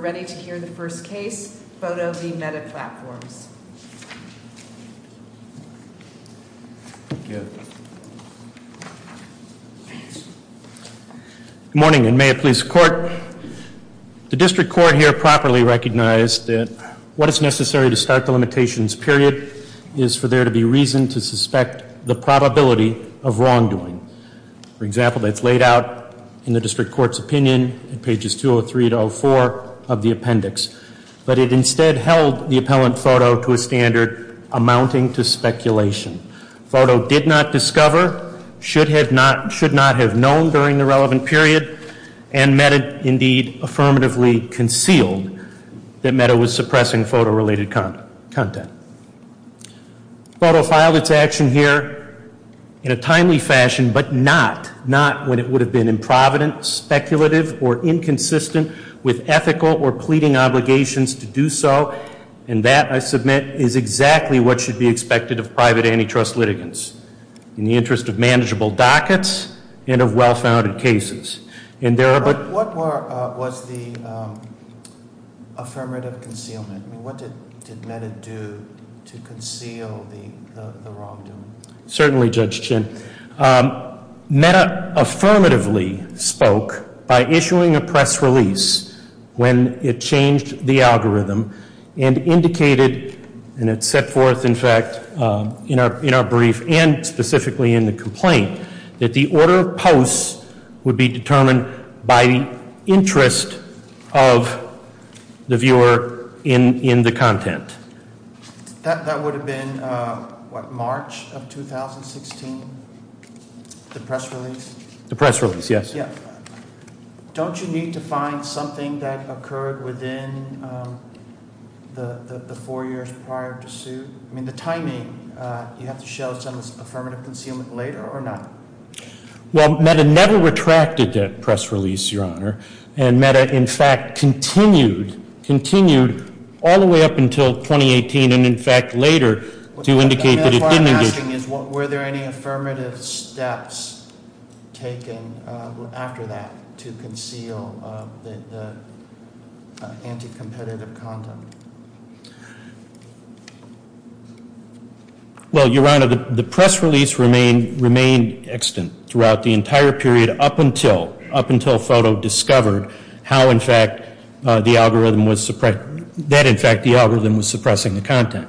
We're ready to hear the first case, PHOTO v. Meta Platforms. Good morning, and may it please the court. The district court here properly recognized that what is necessary to start the limitations period is for there to be reason to suspect the probability of wrongdoing. For example, that's laid out in the district court's opinion in pages 203 to 204 of the appendix. But it instead held the appellant PHOTO to a standard amounting to speculation. PHOTO did not discover, should not have known during the relevant period, and Meta indeed affirmatively concealed that Meta was suppressing photo-related content. PHOTO filed its action here in a timely fashion, but not, not when it would have been improvident, speculative, or inconsistent with ethical or pleading obligations to do so. And that, I submit, is exactly what should be expected of private antitrust litigants, in the interest of manageable dockets and of well-founded cases. And there are- But what was the affirmative concealment? What did Meta do to conceal the wrongdoing? Certainly, Judge Chin, Meta affirmatively spoke by issuing a press release when it changed the algorithm and indicated, and it set forth, in fact, in our brief and specifically in the complaint, that the order of posts would be determined by the interest of the viewer in the content. That would have been, what, March of 2016, the press release? The press release, yes. Yeah. Don't you need to find something that occurred within the four years prior to suit? I mean, the timing, you have to show some affirmative concealment later or not? Well, Meta never retracted that press release, Your Honor. And Meta, in fact, continued, continued all the way up until 2018, and in fact, later, to indicate that it didn't- What I'm asking is, were there any affirmative steps taken after that to conceal the anti-competitive content? Well, Your Honor, the press release remained extant throughout the entire period up until, up until FOTO discovered how, in fact, the algorithm was suppress- that, in fact, the algorithm was suppressing the content.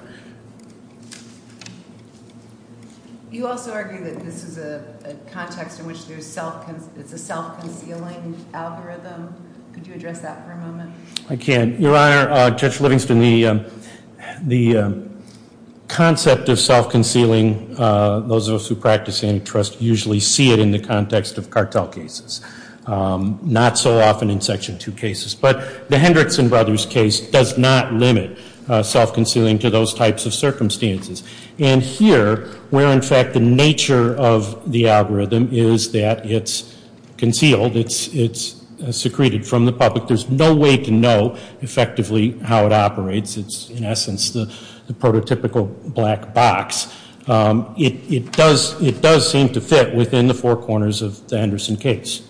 You also argue that this is a context in which it's a self-concealing algorithm. Could you address that for a moment? I can. Your Honor, Judge Livingston, the concept of self-concealing, those of us who practice antitrust usually see it in the context of cartel cases, not so often in Section 2 cases. But the Hendrickson Brothers case does not limit self-concealing to those types of circumstances. And here, where in fact the nature of the algorithm is that it's concealed, it's secreted from the public, there's no way to know effectively how it operates. It's, in essence, the prototypical black box. It does seem to fit within the four corners of the Henderson case.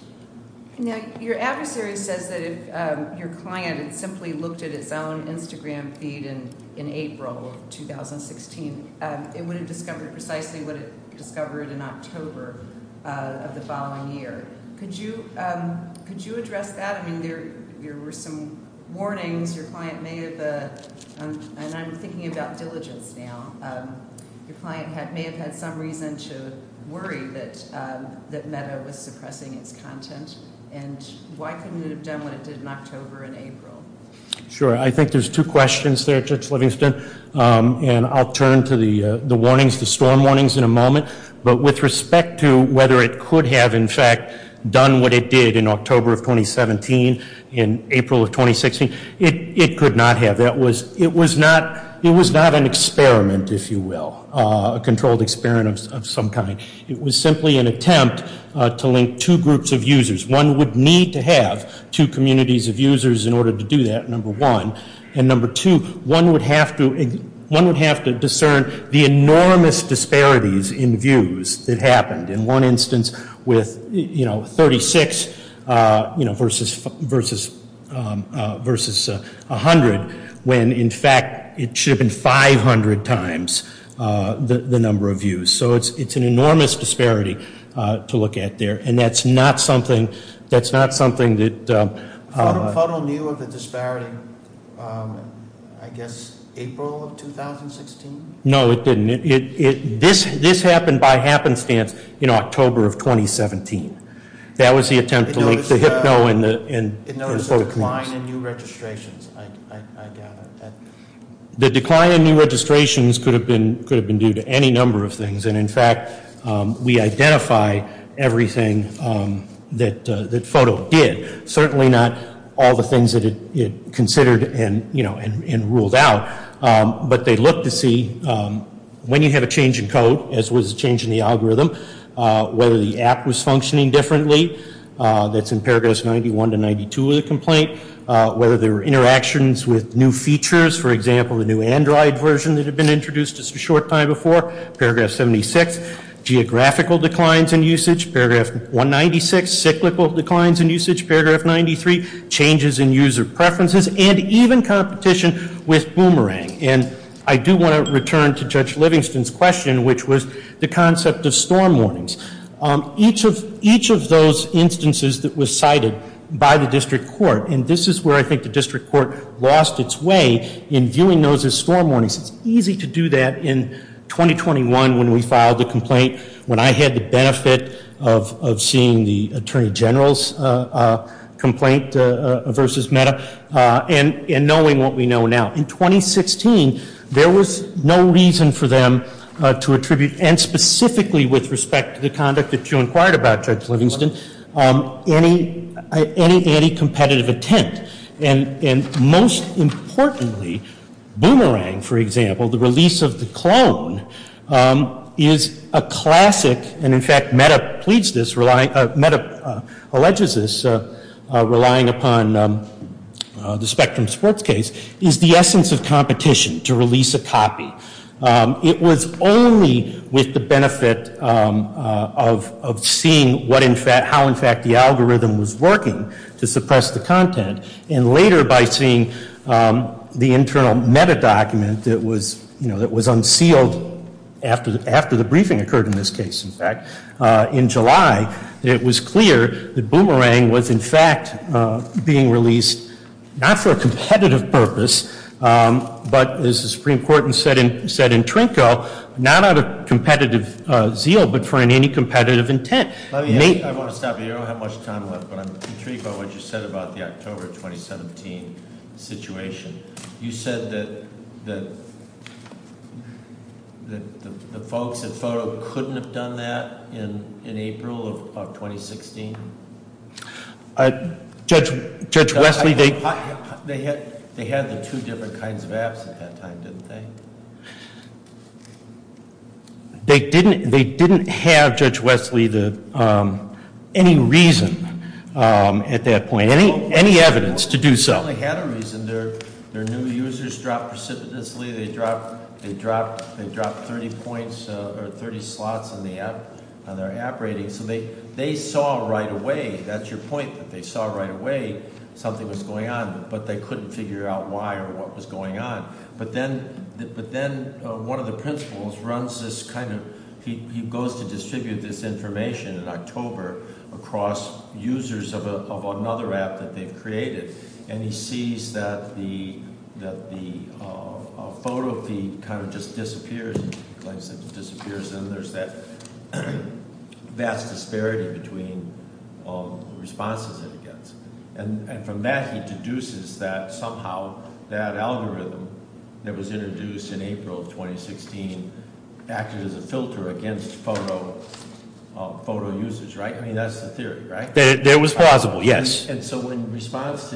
Now, your adversary says that if your client simply looked at its own Instagram feed in April of 2016, it would have discovered precisely what it discovered in October of the following year. Could you address that? I mean, there were some warnings. Your client may have, and I'm thinking about diligence now. Your client may have had some reason to worry that Metta was suppressing its content. And why couldn't it have done what it did in October and April? Sure, I think there's two questions there, Judge Livingston. And I'll turn to the warnings, the storm warnings in a moment. But with respect to whether it could have, in fact, done what it did in October of 2017, in April of 2016, it could not have. That was, it was not, it was not an experiment, if you will, a controlled experiment of some kind. It was simply an attempt to link two groups of users. One would need to have two communities of users in order to do that, number one. And number two, one would have to discern the enormous disparities in views that happened. In one instance, with 36 versus 100, when in fact, it should have been 500 times the number of views. So it's an enormous disparity to look at there. And that's not something, that's not something that- Photo knew of the disparity, I guess, April of 2016? No, it didn't. This happened by happenstance in October of 2017. That was the attempt to link the hypno and the photo communities. It noticed a decline in new registrations, I gather. The decline in new registrations could have been due to any number of things. And in fact, we identify everything that photo did. Certainly not all the things that it considered and ruled out. But they looked to see, when you have a change in code, as was a change in the algorithm, whether the app was functioning differently, that's in paragraphs 91 to 92 of the complaint. Whether there were interactions with new features, for example, the new Android version that had been introduced just a short time before, paragraph 76. Geographical declines in usage, paragraph 196, cyclical declines in usage, paragraph 93, changes in user preferences, and even competition with Boomerang. And I do want to return to Judge Livingston's question, which was the concept of storm warnings. Each of those instances that was cited by the district court, and this is where I think the district court lost its way in viewing those as storm warnings. It's easy to do that in 2021 when we filed the complaint, when I had the benefit of seeing the Attorney General's complaint versus Meta. And knowing what we know now. In 2016, there was no reason for them to attribute, and specifically with respect to the conduct that you inquired about, Judge Livingston, any competitive attempt. And most importantly, Boomerang, for example, the release of the clone is a classic, and in fact, Meta pleads this, Meta alleges this, relying upon the Spectrum Sports case, is the essence of competition to release a copy. It was only with the benefit of seeing how, in fact, the algorithm was working to suppress the content. And later by seeing the internal meta document that was unsealed after the briefing occurred in this case, in fact, in July, it was clear that Boomerang was in fact being released not for a competitive purpose, but as the Supreme Court said in Trinco, not out of competitive zeal, but for any competitive intent. I want to stop here, I don't have much time left, but I'm intrigued by what you said about the October 2017 situation. You said that the folks at Photo couldn't have done that in April of 2016? Judge Wesley, they- They had the two different kinds of apps at that time, didn't they? They didn't have, Judge Wesley, any reason at that point, any evidence to do so. They had a reason, their new users dropped precipitously. They dropped 30 points or 30 slots on their app rating. So they saw right away, that's your point, that they saw right away something was going on, but they couldn't figure out why or what was going on. But then one of the principals runs this kind of, he goes to distribute this information in October across users of another app that they've created. And he sees that the photo feed kind of just disappears, and he claims that it disappears and there's that vast disparity between responses that he gets. And from that he deduces that somehow that algorithm that was introduced in April of 2016 acted as a filter against photo users, right? I mean, that's the theory, right? It was plausible, yes. And so in response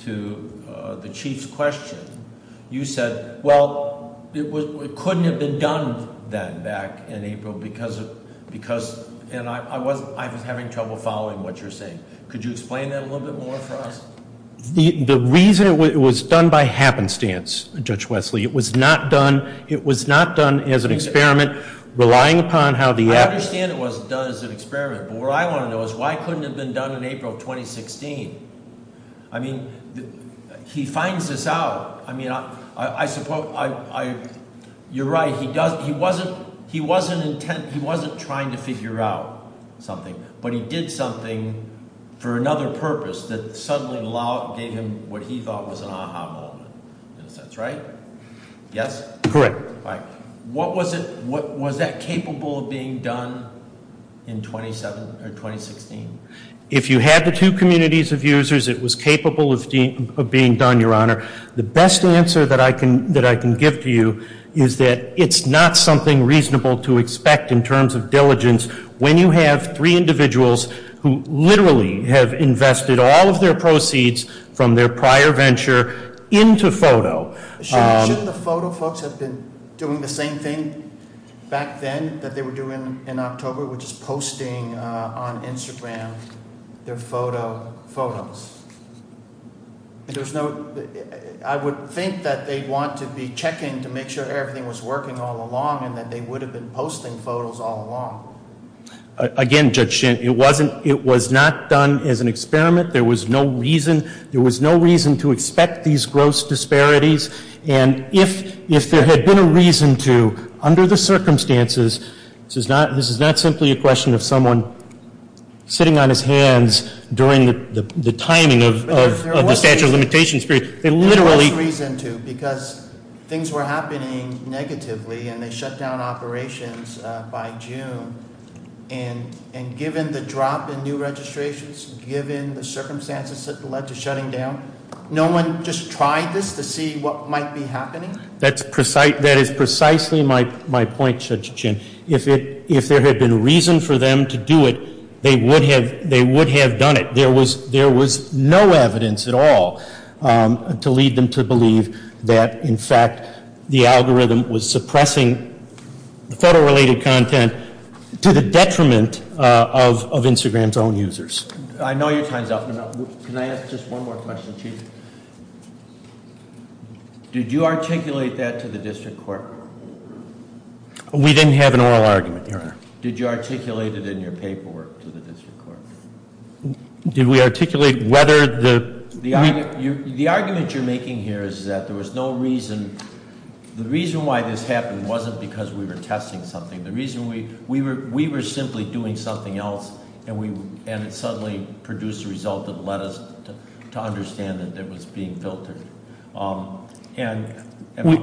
to the Chief's question, you said, well, it couldn't have been done then back in April because, and I was having trouble following what you're saying. Could you explain that a little bit more for us? The reason it was done by happenstance, Judge Wesley, it was not done as an experiment, relying upon how the app- I understand it wasn't done as an experiment, but what I want to know is why couldn't it have been done in April of 2016? I mean, he finds this out. I mean, you're right, he wasn't trying to figure out something. But he did something for another purpose that suddenly gave him what he thought was an aha moment. That's right? Yes? Correct. What was that capable of being done in 2016? If you had the two communities of users, it was capable of being done, Your Honor. The best answer that I can give to you is that it's not something reasonable to expect in terms of diligence. When you have three individuals who literally have invested all of their proceeds from their prior venture into photo. Shouldn't the photo folks have been doing the same thing back then that they were doing in October, which is posting on Instagram their photo photos? There's no, I would think that they'd want to be checking to make sure everything was working all along and that they would have been posting photos all along. Again, Judge Shant, it was not done as an experiment. There was no reason to expect these gross disparities. And if there had been a reason to, under the circumstances, this is not simply a question of someone sitting on his hands during the timing of the statute of limitations period. There was no reason to because things were happening negatively and they shut down operations by June. And given the drop in new registrations, given the circumstances that led to shutting down, no one just tried this to see what might be happening? That is precisely my point, Judge Chin. If there had been reason for them to do it, they would have done it. There was no evidence at all to lead them to believe that, in fact, the algorithm was suppressing the photo related content to the detriment of Instagram's own users. I know your time's up, but can I ask just one more question, Chief? Did you articulate that to the district court? Did you articulate it in your paperwork to the district court? Did we articulate whether the- The argument you're making here is that there was no reason. The reason why this happened wasn't because we were testing something. The reason we were simply doing something else and it suddenly produced a result that led us to understand that it was being filtered. And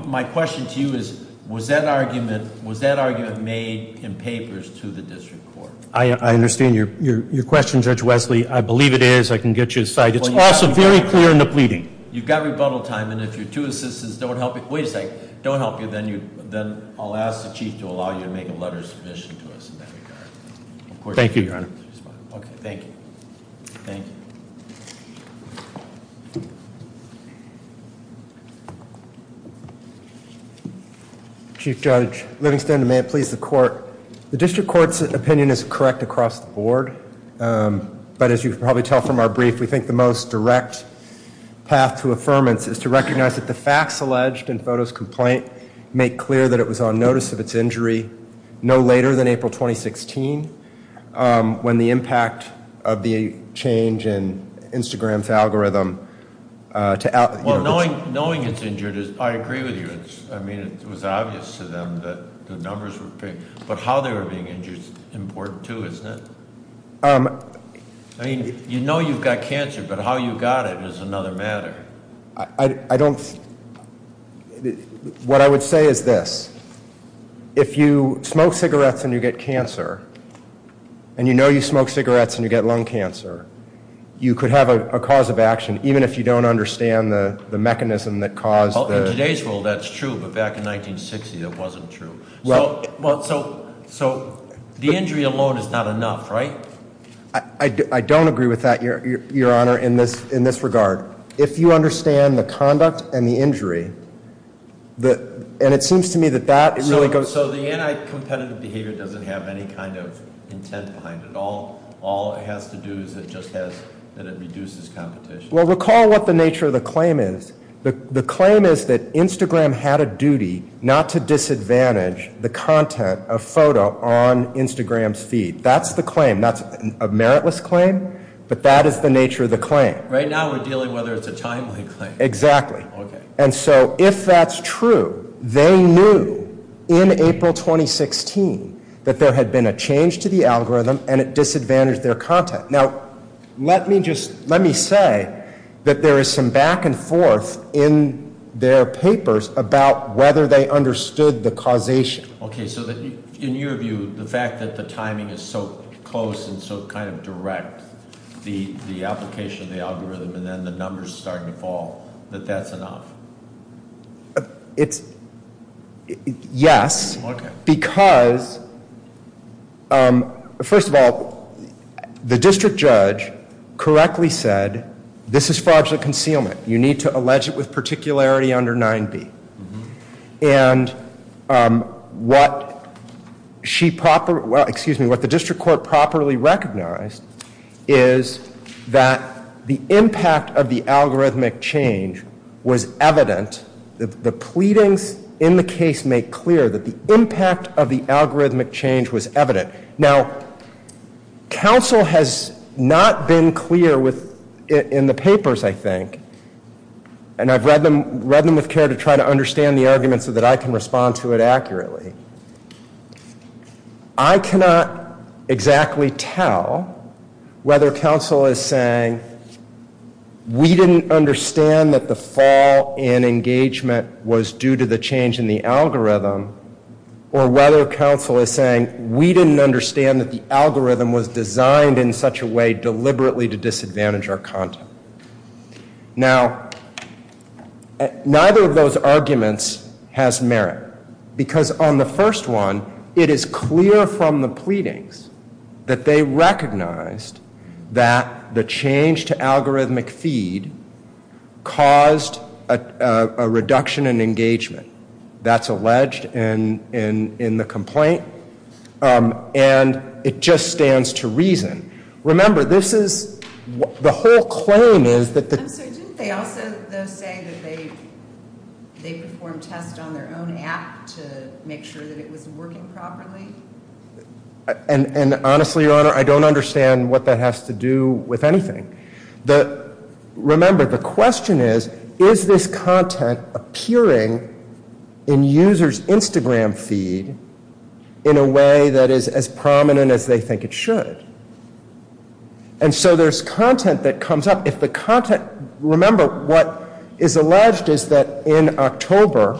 my question to you is, was that argument made in papers to the district court? I understand your question, Judge Wesley. I believe it is. I can get you a cite. It's also very clear in the pleading. You've got rebuttal time, and if your two assistants don't help you, wait a sec, don't help you, then I'll ask the Chief to allow you to make a letter of submission to us in that regard. Thank you, Your Honor. Okay, thank you. Thank you. Chief Judge Livingston, may it please the court. The district court's opinion is correct across the board, but as you can probably tell from our brief, we think the most direct path to affirmance is to recognize that the facts alleged in Foto's complaint make clear that it was on notice of its injury no later than April 2016, when the impact of the change in Instagram's algorithm to- Well, knowing it's injured, I agree with you. I mean, it was obvious to them that the numbers were big. But how they were being injured's important too, isn't it? I mean, you know you've got cancer, but how you got it is another matter. I don't, what I would say is this. If you smoke cigarettes and you get cancer, and you know you smoke cigarettes and you get lung cancer, you could have a cause of action, even if you don't understand the mechanism that caused the- In today's world, that's true, but back in 1960, that wasn't true. So the injury alone is not enough, right? I don't agree with that, Your Honor, in this regard. If you understand the conduct and the injury, and it seems to me that that really goes- So the anti-competitive behavior doesn't have any kind of intent behind it. All it has to do is it just has, that it reduces competition. Well, recall what the nature of the claim is. The claim is that Instagram had a duty not to disadvantage the content of Foto on Instagram's feed. That's the claim. That's a meritless claim, but that is the nature of the claim. Right now, we're dealing whether it's a timely claim. Exactly. And so, if that's true, they knew in April 2016 that there had been a change to the algorithm and it disadvantaged their content. Now, let me say that there is some back and forth in their papers about whether they understood the causation. Okay, so in your view, the fact that the timing is so close and so kind of direct, the application of the algorithm, and then the numbers starting to fall, that that's enough? It's, yes, because, first of all, the district judge correctly said, this is fraudulent concealment. You need to allege it with particularity under 9B. Mm-hm. And what the district court properly recognized is that the impact of the algorithmic change was evident. The pleadings in the case make clear that the impact of the algorithmic change was evident. Now, counsel has not been clear in the papers, I think. And I've read them with care to try to understand the arguments so that I can respond to it accurately. I cannot exactly tell whether counsel is saying, we didn't understand that the fall in engagement was due to the change in the algorithm. Or whether counsel is saying, we didn't understand that the algorithm was designed in such a way deliberately to disadvantage our content. Now, neither of those arguments has merit. Because on the first one, it is clear from the pleadings that they recognized that the change to algorithmic feed caused a reduction in engagement. That's alleged in the complaint. And it just stands to reason. Remember, this is, the whole claim is that the- I'm sorry, didn't they also, though, say that they performed tests on their own app to make sure that it was working properly? And honestly, your honor, I don't understand what that has to do with anything. Remember, the question is, is this content appearing in users' Instagram feed in a way that is as prominent as they think it should? And so there's content that comes up. If the content, remember, what is alleged is that in October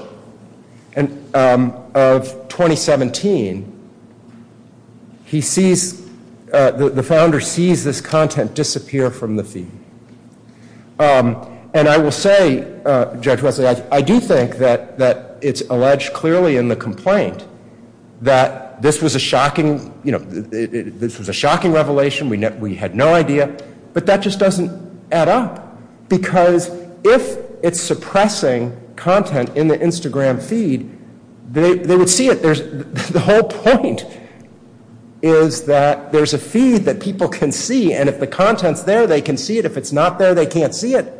of 2017, he sees, the founder sees this content disappear from the feed. And I will say, Judge Wesley, I do think that it's alleged clearly in the complaint that this was a shocking, you know, this was a shocking revelation, we had no idea. But that just doesn't add up. Because if it's suppressing content in the Instagram feed, they would see it. The whole point is that there's a feed that people can see, and if the content's there, they can see it. If it's not there, they can't see it.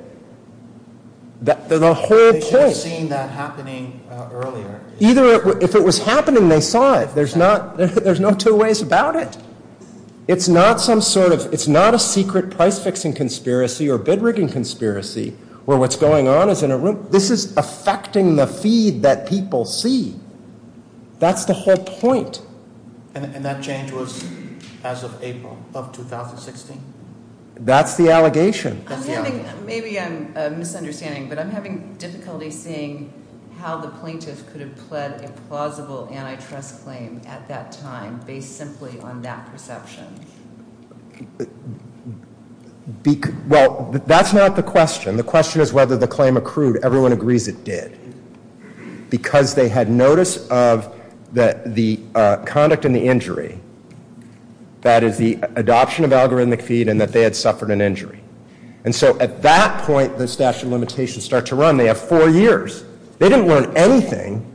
The whole point- They should have seen that happening earlier. Either it, if it was happening, they saw it. There's not, there's no two ways about it. It's not some sort of, it's not a secret price fixing conspiracy or bid rigging conspiracy where what's going on is in a room. This is affecting the feed that people see. That's the whole point. And that change was as of April of 2016? That's the allegation. That's the allegation. Maybe I'm misunderstanding, but I'm having difficulty seeing how the plaintiff could have pled a plausible antitrust claim at that time based simply on that perception. Well, that's not the question. The question is whether the claim accrued. Everyone agrees it did. Because they had notice of the conduct and the injury. That is the adoption of algorithmic feed and that they had suffered an injury. And so at that point, the statute of limitations start to run. They have four years. They didn't learn anything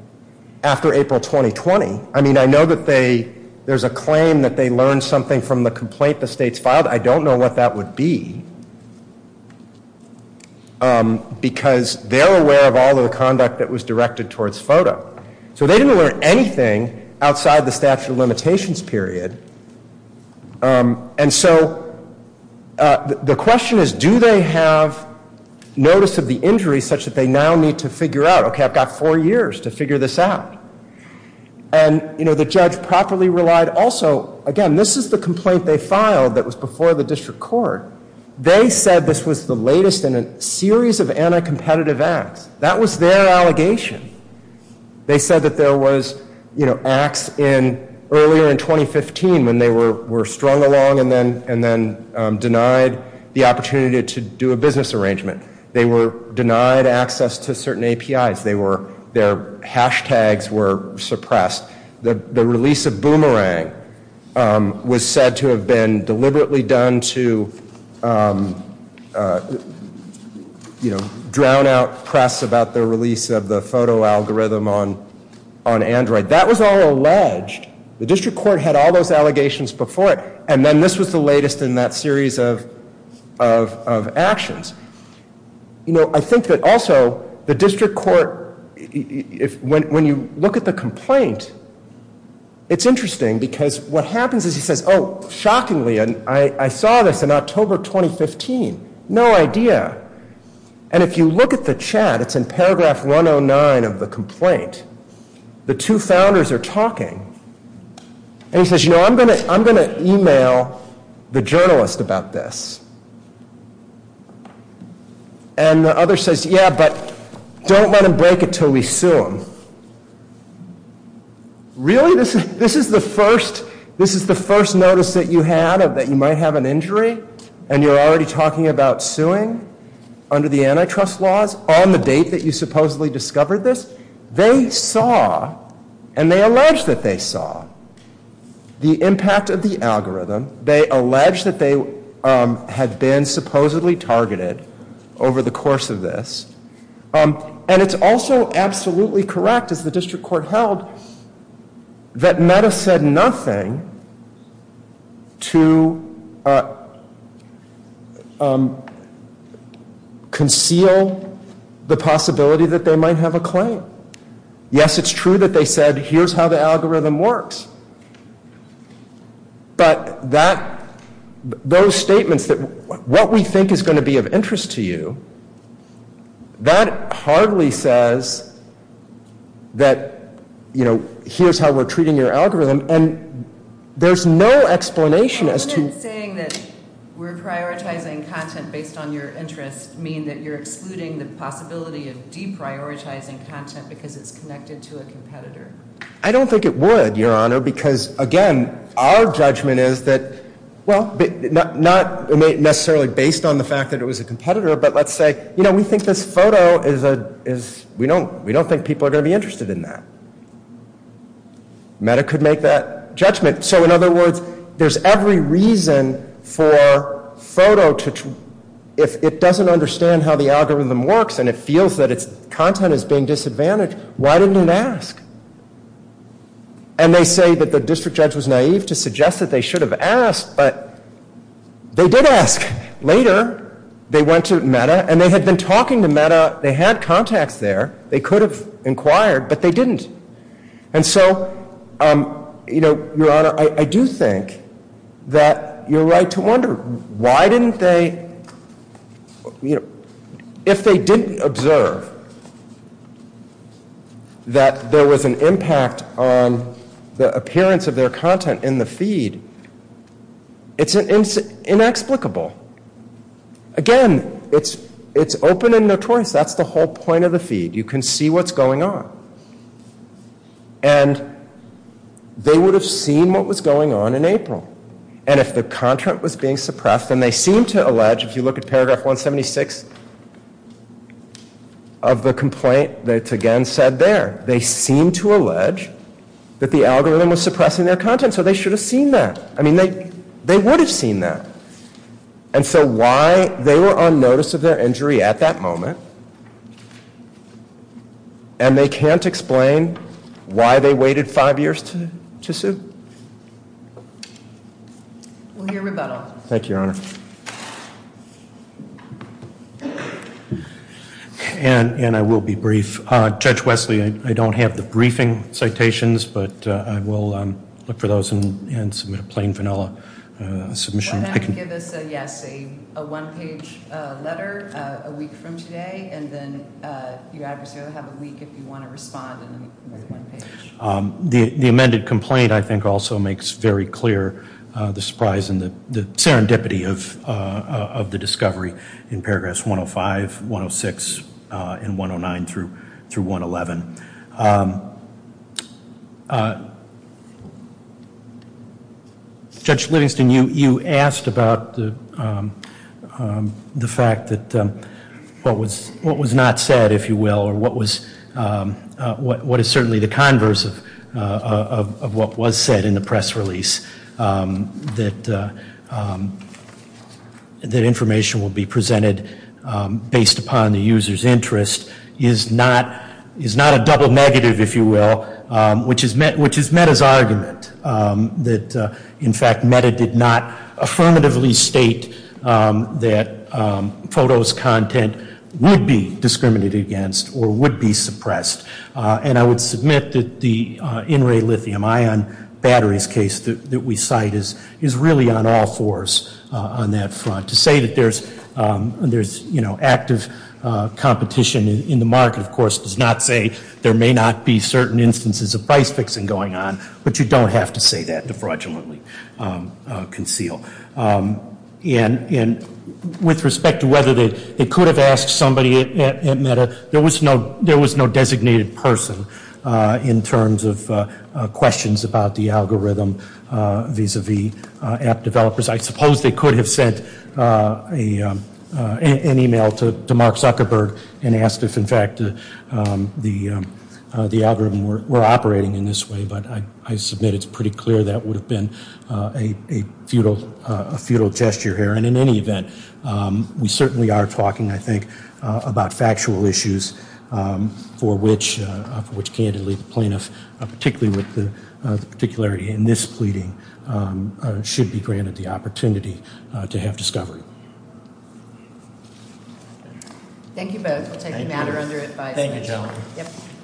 after April 2020. I mean, I know that they, there's a claim that they learned something from the complaint the state's filed. I don't know what that would be. Because they're aware of all of the conduct that was directed towards FOTA. So they didn't learn anything outside the statute of limitations period. And so the question is, do they have notice of the injury such that they now need to figure out, okay, I've got four years to figure this out. And the judge properly relied also, again, this is the complaint they filed that was before the district court. They said this was the latest in a series of anti-competitive acts. That was their allegation. They said that there was acts earlier in 2015 when they were strung along and then denied the opportunity to do a business arrangement. They were denied access to certain APIs. Their hashtags were suppressed. The release of Boomerang was said to have been deliberately done to drown out press about the release of the photo algorithm on Android. That was all alleged. The district court had all those allegations before it. And then this was the latest in that series of actions. I think that also, the district court, when you look at the complaint, it's interesting because what happens is he says, shockingly, I saw this in October 2015. No idea. And if you look at the chat, it's in paragraph 109 of the complaint. The two founders are talking. And he says, I'm going to email the journalist about this. And the other says, yeah, but don't let him break it until we sue him. Really, this is the first notice that you had of that you might have an injury, and you're already talking about suing under the antitrust laws on the date that you supposedly discovered this? They saw, and they allege that they saw, the impact of the algorithm. They allege that they had been supposedly targeted over the course of this. And it's also absolutely correct, as the district court held, that Meta said nothing to conceal the possibility that they might have a claim. Yes, it's true that they said, here's how the algorithm works. But those statements that what we think is going to be of interest to you, that hardly says that here's how we're treating your algorithm. And there's no explanation as to- But wouldn't saying that we're prioritizing content based on your interest mean that you're excluding the possibility of deprioritizing content because it's connected to a competitor? I don't think it would, Your Honor. Because, again, our judgment is that, well, not necessarily based on the fact that it was a competitor, but let's say, you know, we think this photo is- We don't think people are going to be interested in that. Meta could make that judgment. So, in other words, there's every reason for photo to- If it doesn't understand how the algorithm works, and it feels that its content is being disadvantaged, why didn't it ask? And they say that the district judge was naive to suggest that they should have asked, but they did ask. Later, they went to Meta, and they had been talking to Meta. They had contacts there. They could have inquired, but they didn't. And so, you know, Your Honor, I do think that you're right to wonder why didn't they- If they didn't observe that there was an impact on the appearance of their content in the feed, it's inexplicable. Again, it's open and notorious. That's the whole point of the feed. You can see what's going on. And they would have seen what was going on in April. And if the content was being suppressed, then they seem to allege, if you look at paragraph 176 of the complaint, that's again said there, they seem to allege that the algorithm was suppressing their content. So they should have seen that. I mean, they would have seen that. And so why they were on notice of their injury at that moment, And they can't explain why they waited five years to sue? We'll hear rebuttal. Thank you, Your Honor. And I will be brief. Judge Wesley, I don't have the briefing citations, but I will look for those and submit a plain vanilla submission. Give us a yes, a one page letter a week from today. And then you obviously have a week if you want to respond. The amended complaint, I think, also makes very clear the surprise and the serendipity of the discovery in paragraphs 105, 106, and 109 through 111. Judge Livingston, you asked about the fact that what was not said, if you will, or what is certainly the converse of what was said in the press release, that information will be presented based upon the user's interest, is not a double negative, if you will, which is Meta's argument. That, in fact, Meta did not affirmatively state that photo's content would be discriminated against or would be suppressed. And I would submit that the in-ray lithium ion batteries case that we cite is really on all fours on that front. To say that there's active competition in the market, of course, does not say there may not be certain instances of price fixing going on, but you don't have to say that to fraudulently conceal. And with respect to whether they could have asked somebody at Meta, there was no designated person in terms of questions about the algorithm vis-a-vis app developers. I suppose they could have sent an email to Mark Zuckerberg and asked if, in fact, the algorithm were operating in this way. But I submit it's pretty clear that would have been a futile gesture here. And in any event, we certainly are talking, I think, about factual issues for which, candidly, the plaintiff, particularly with the particularity in this pleading, should be granted the opportunity to have discovery. Thank you both. I'll take the matter under advice. Thank you, gentlemen. Yep.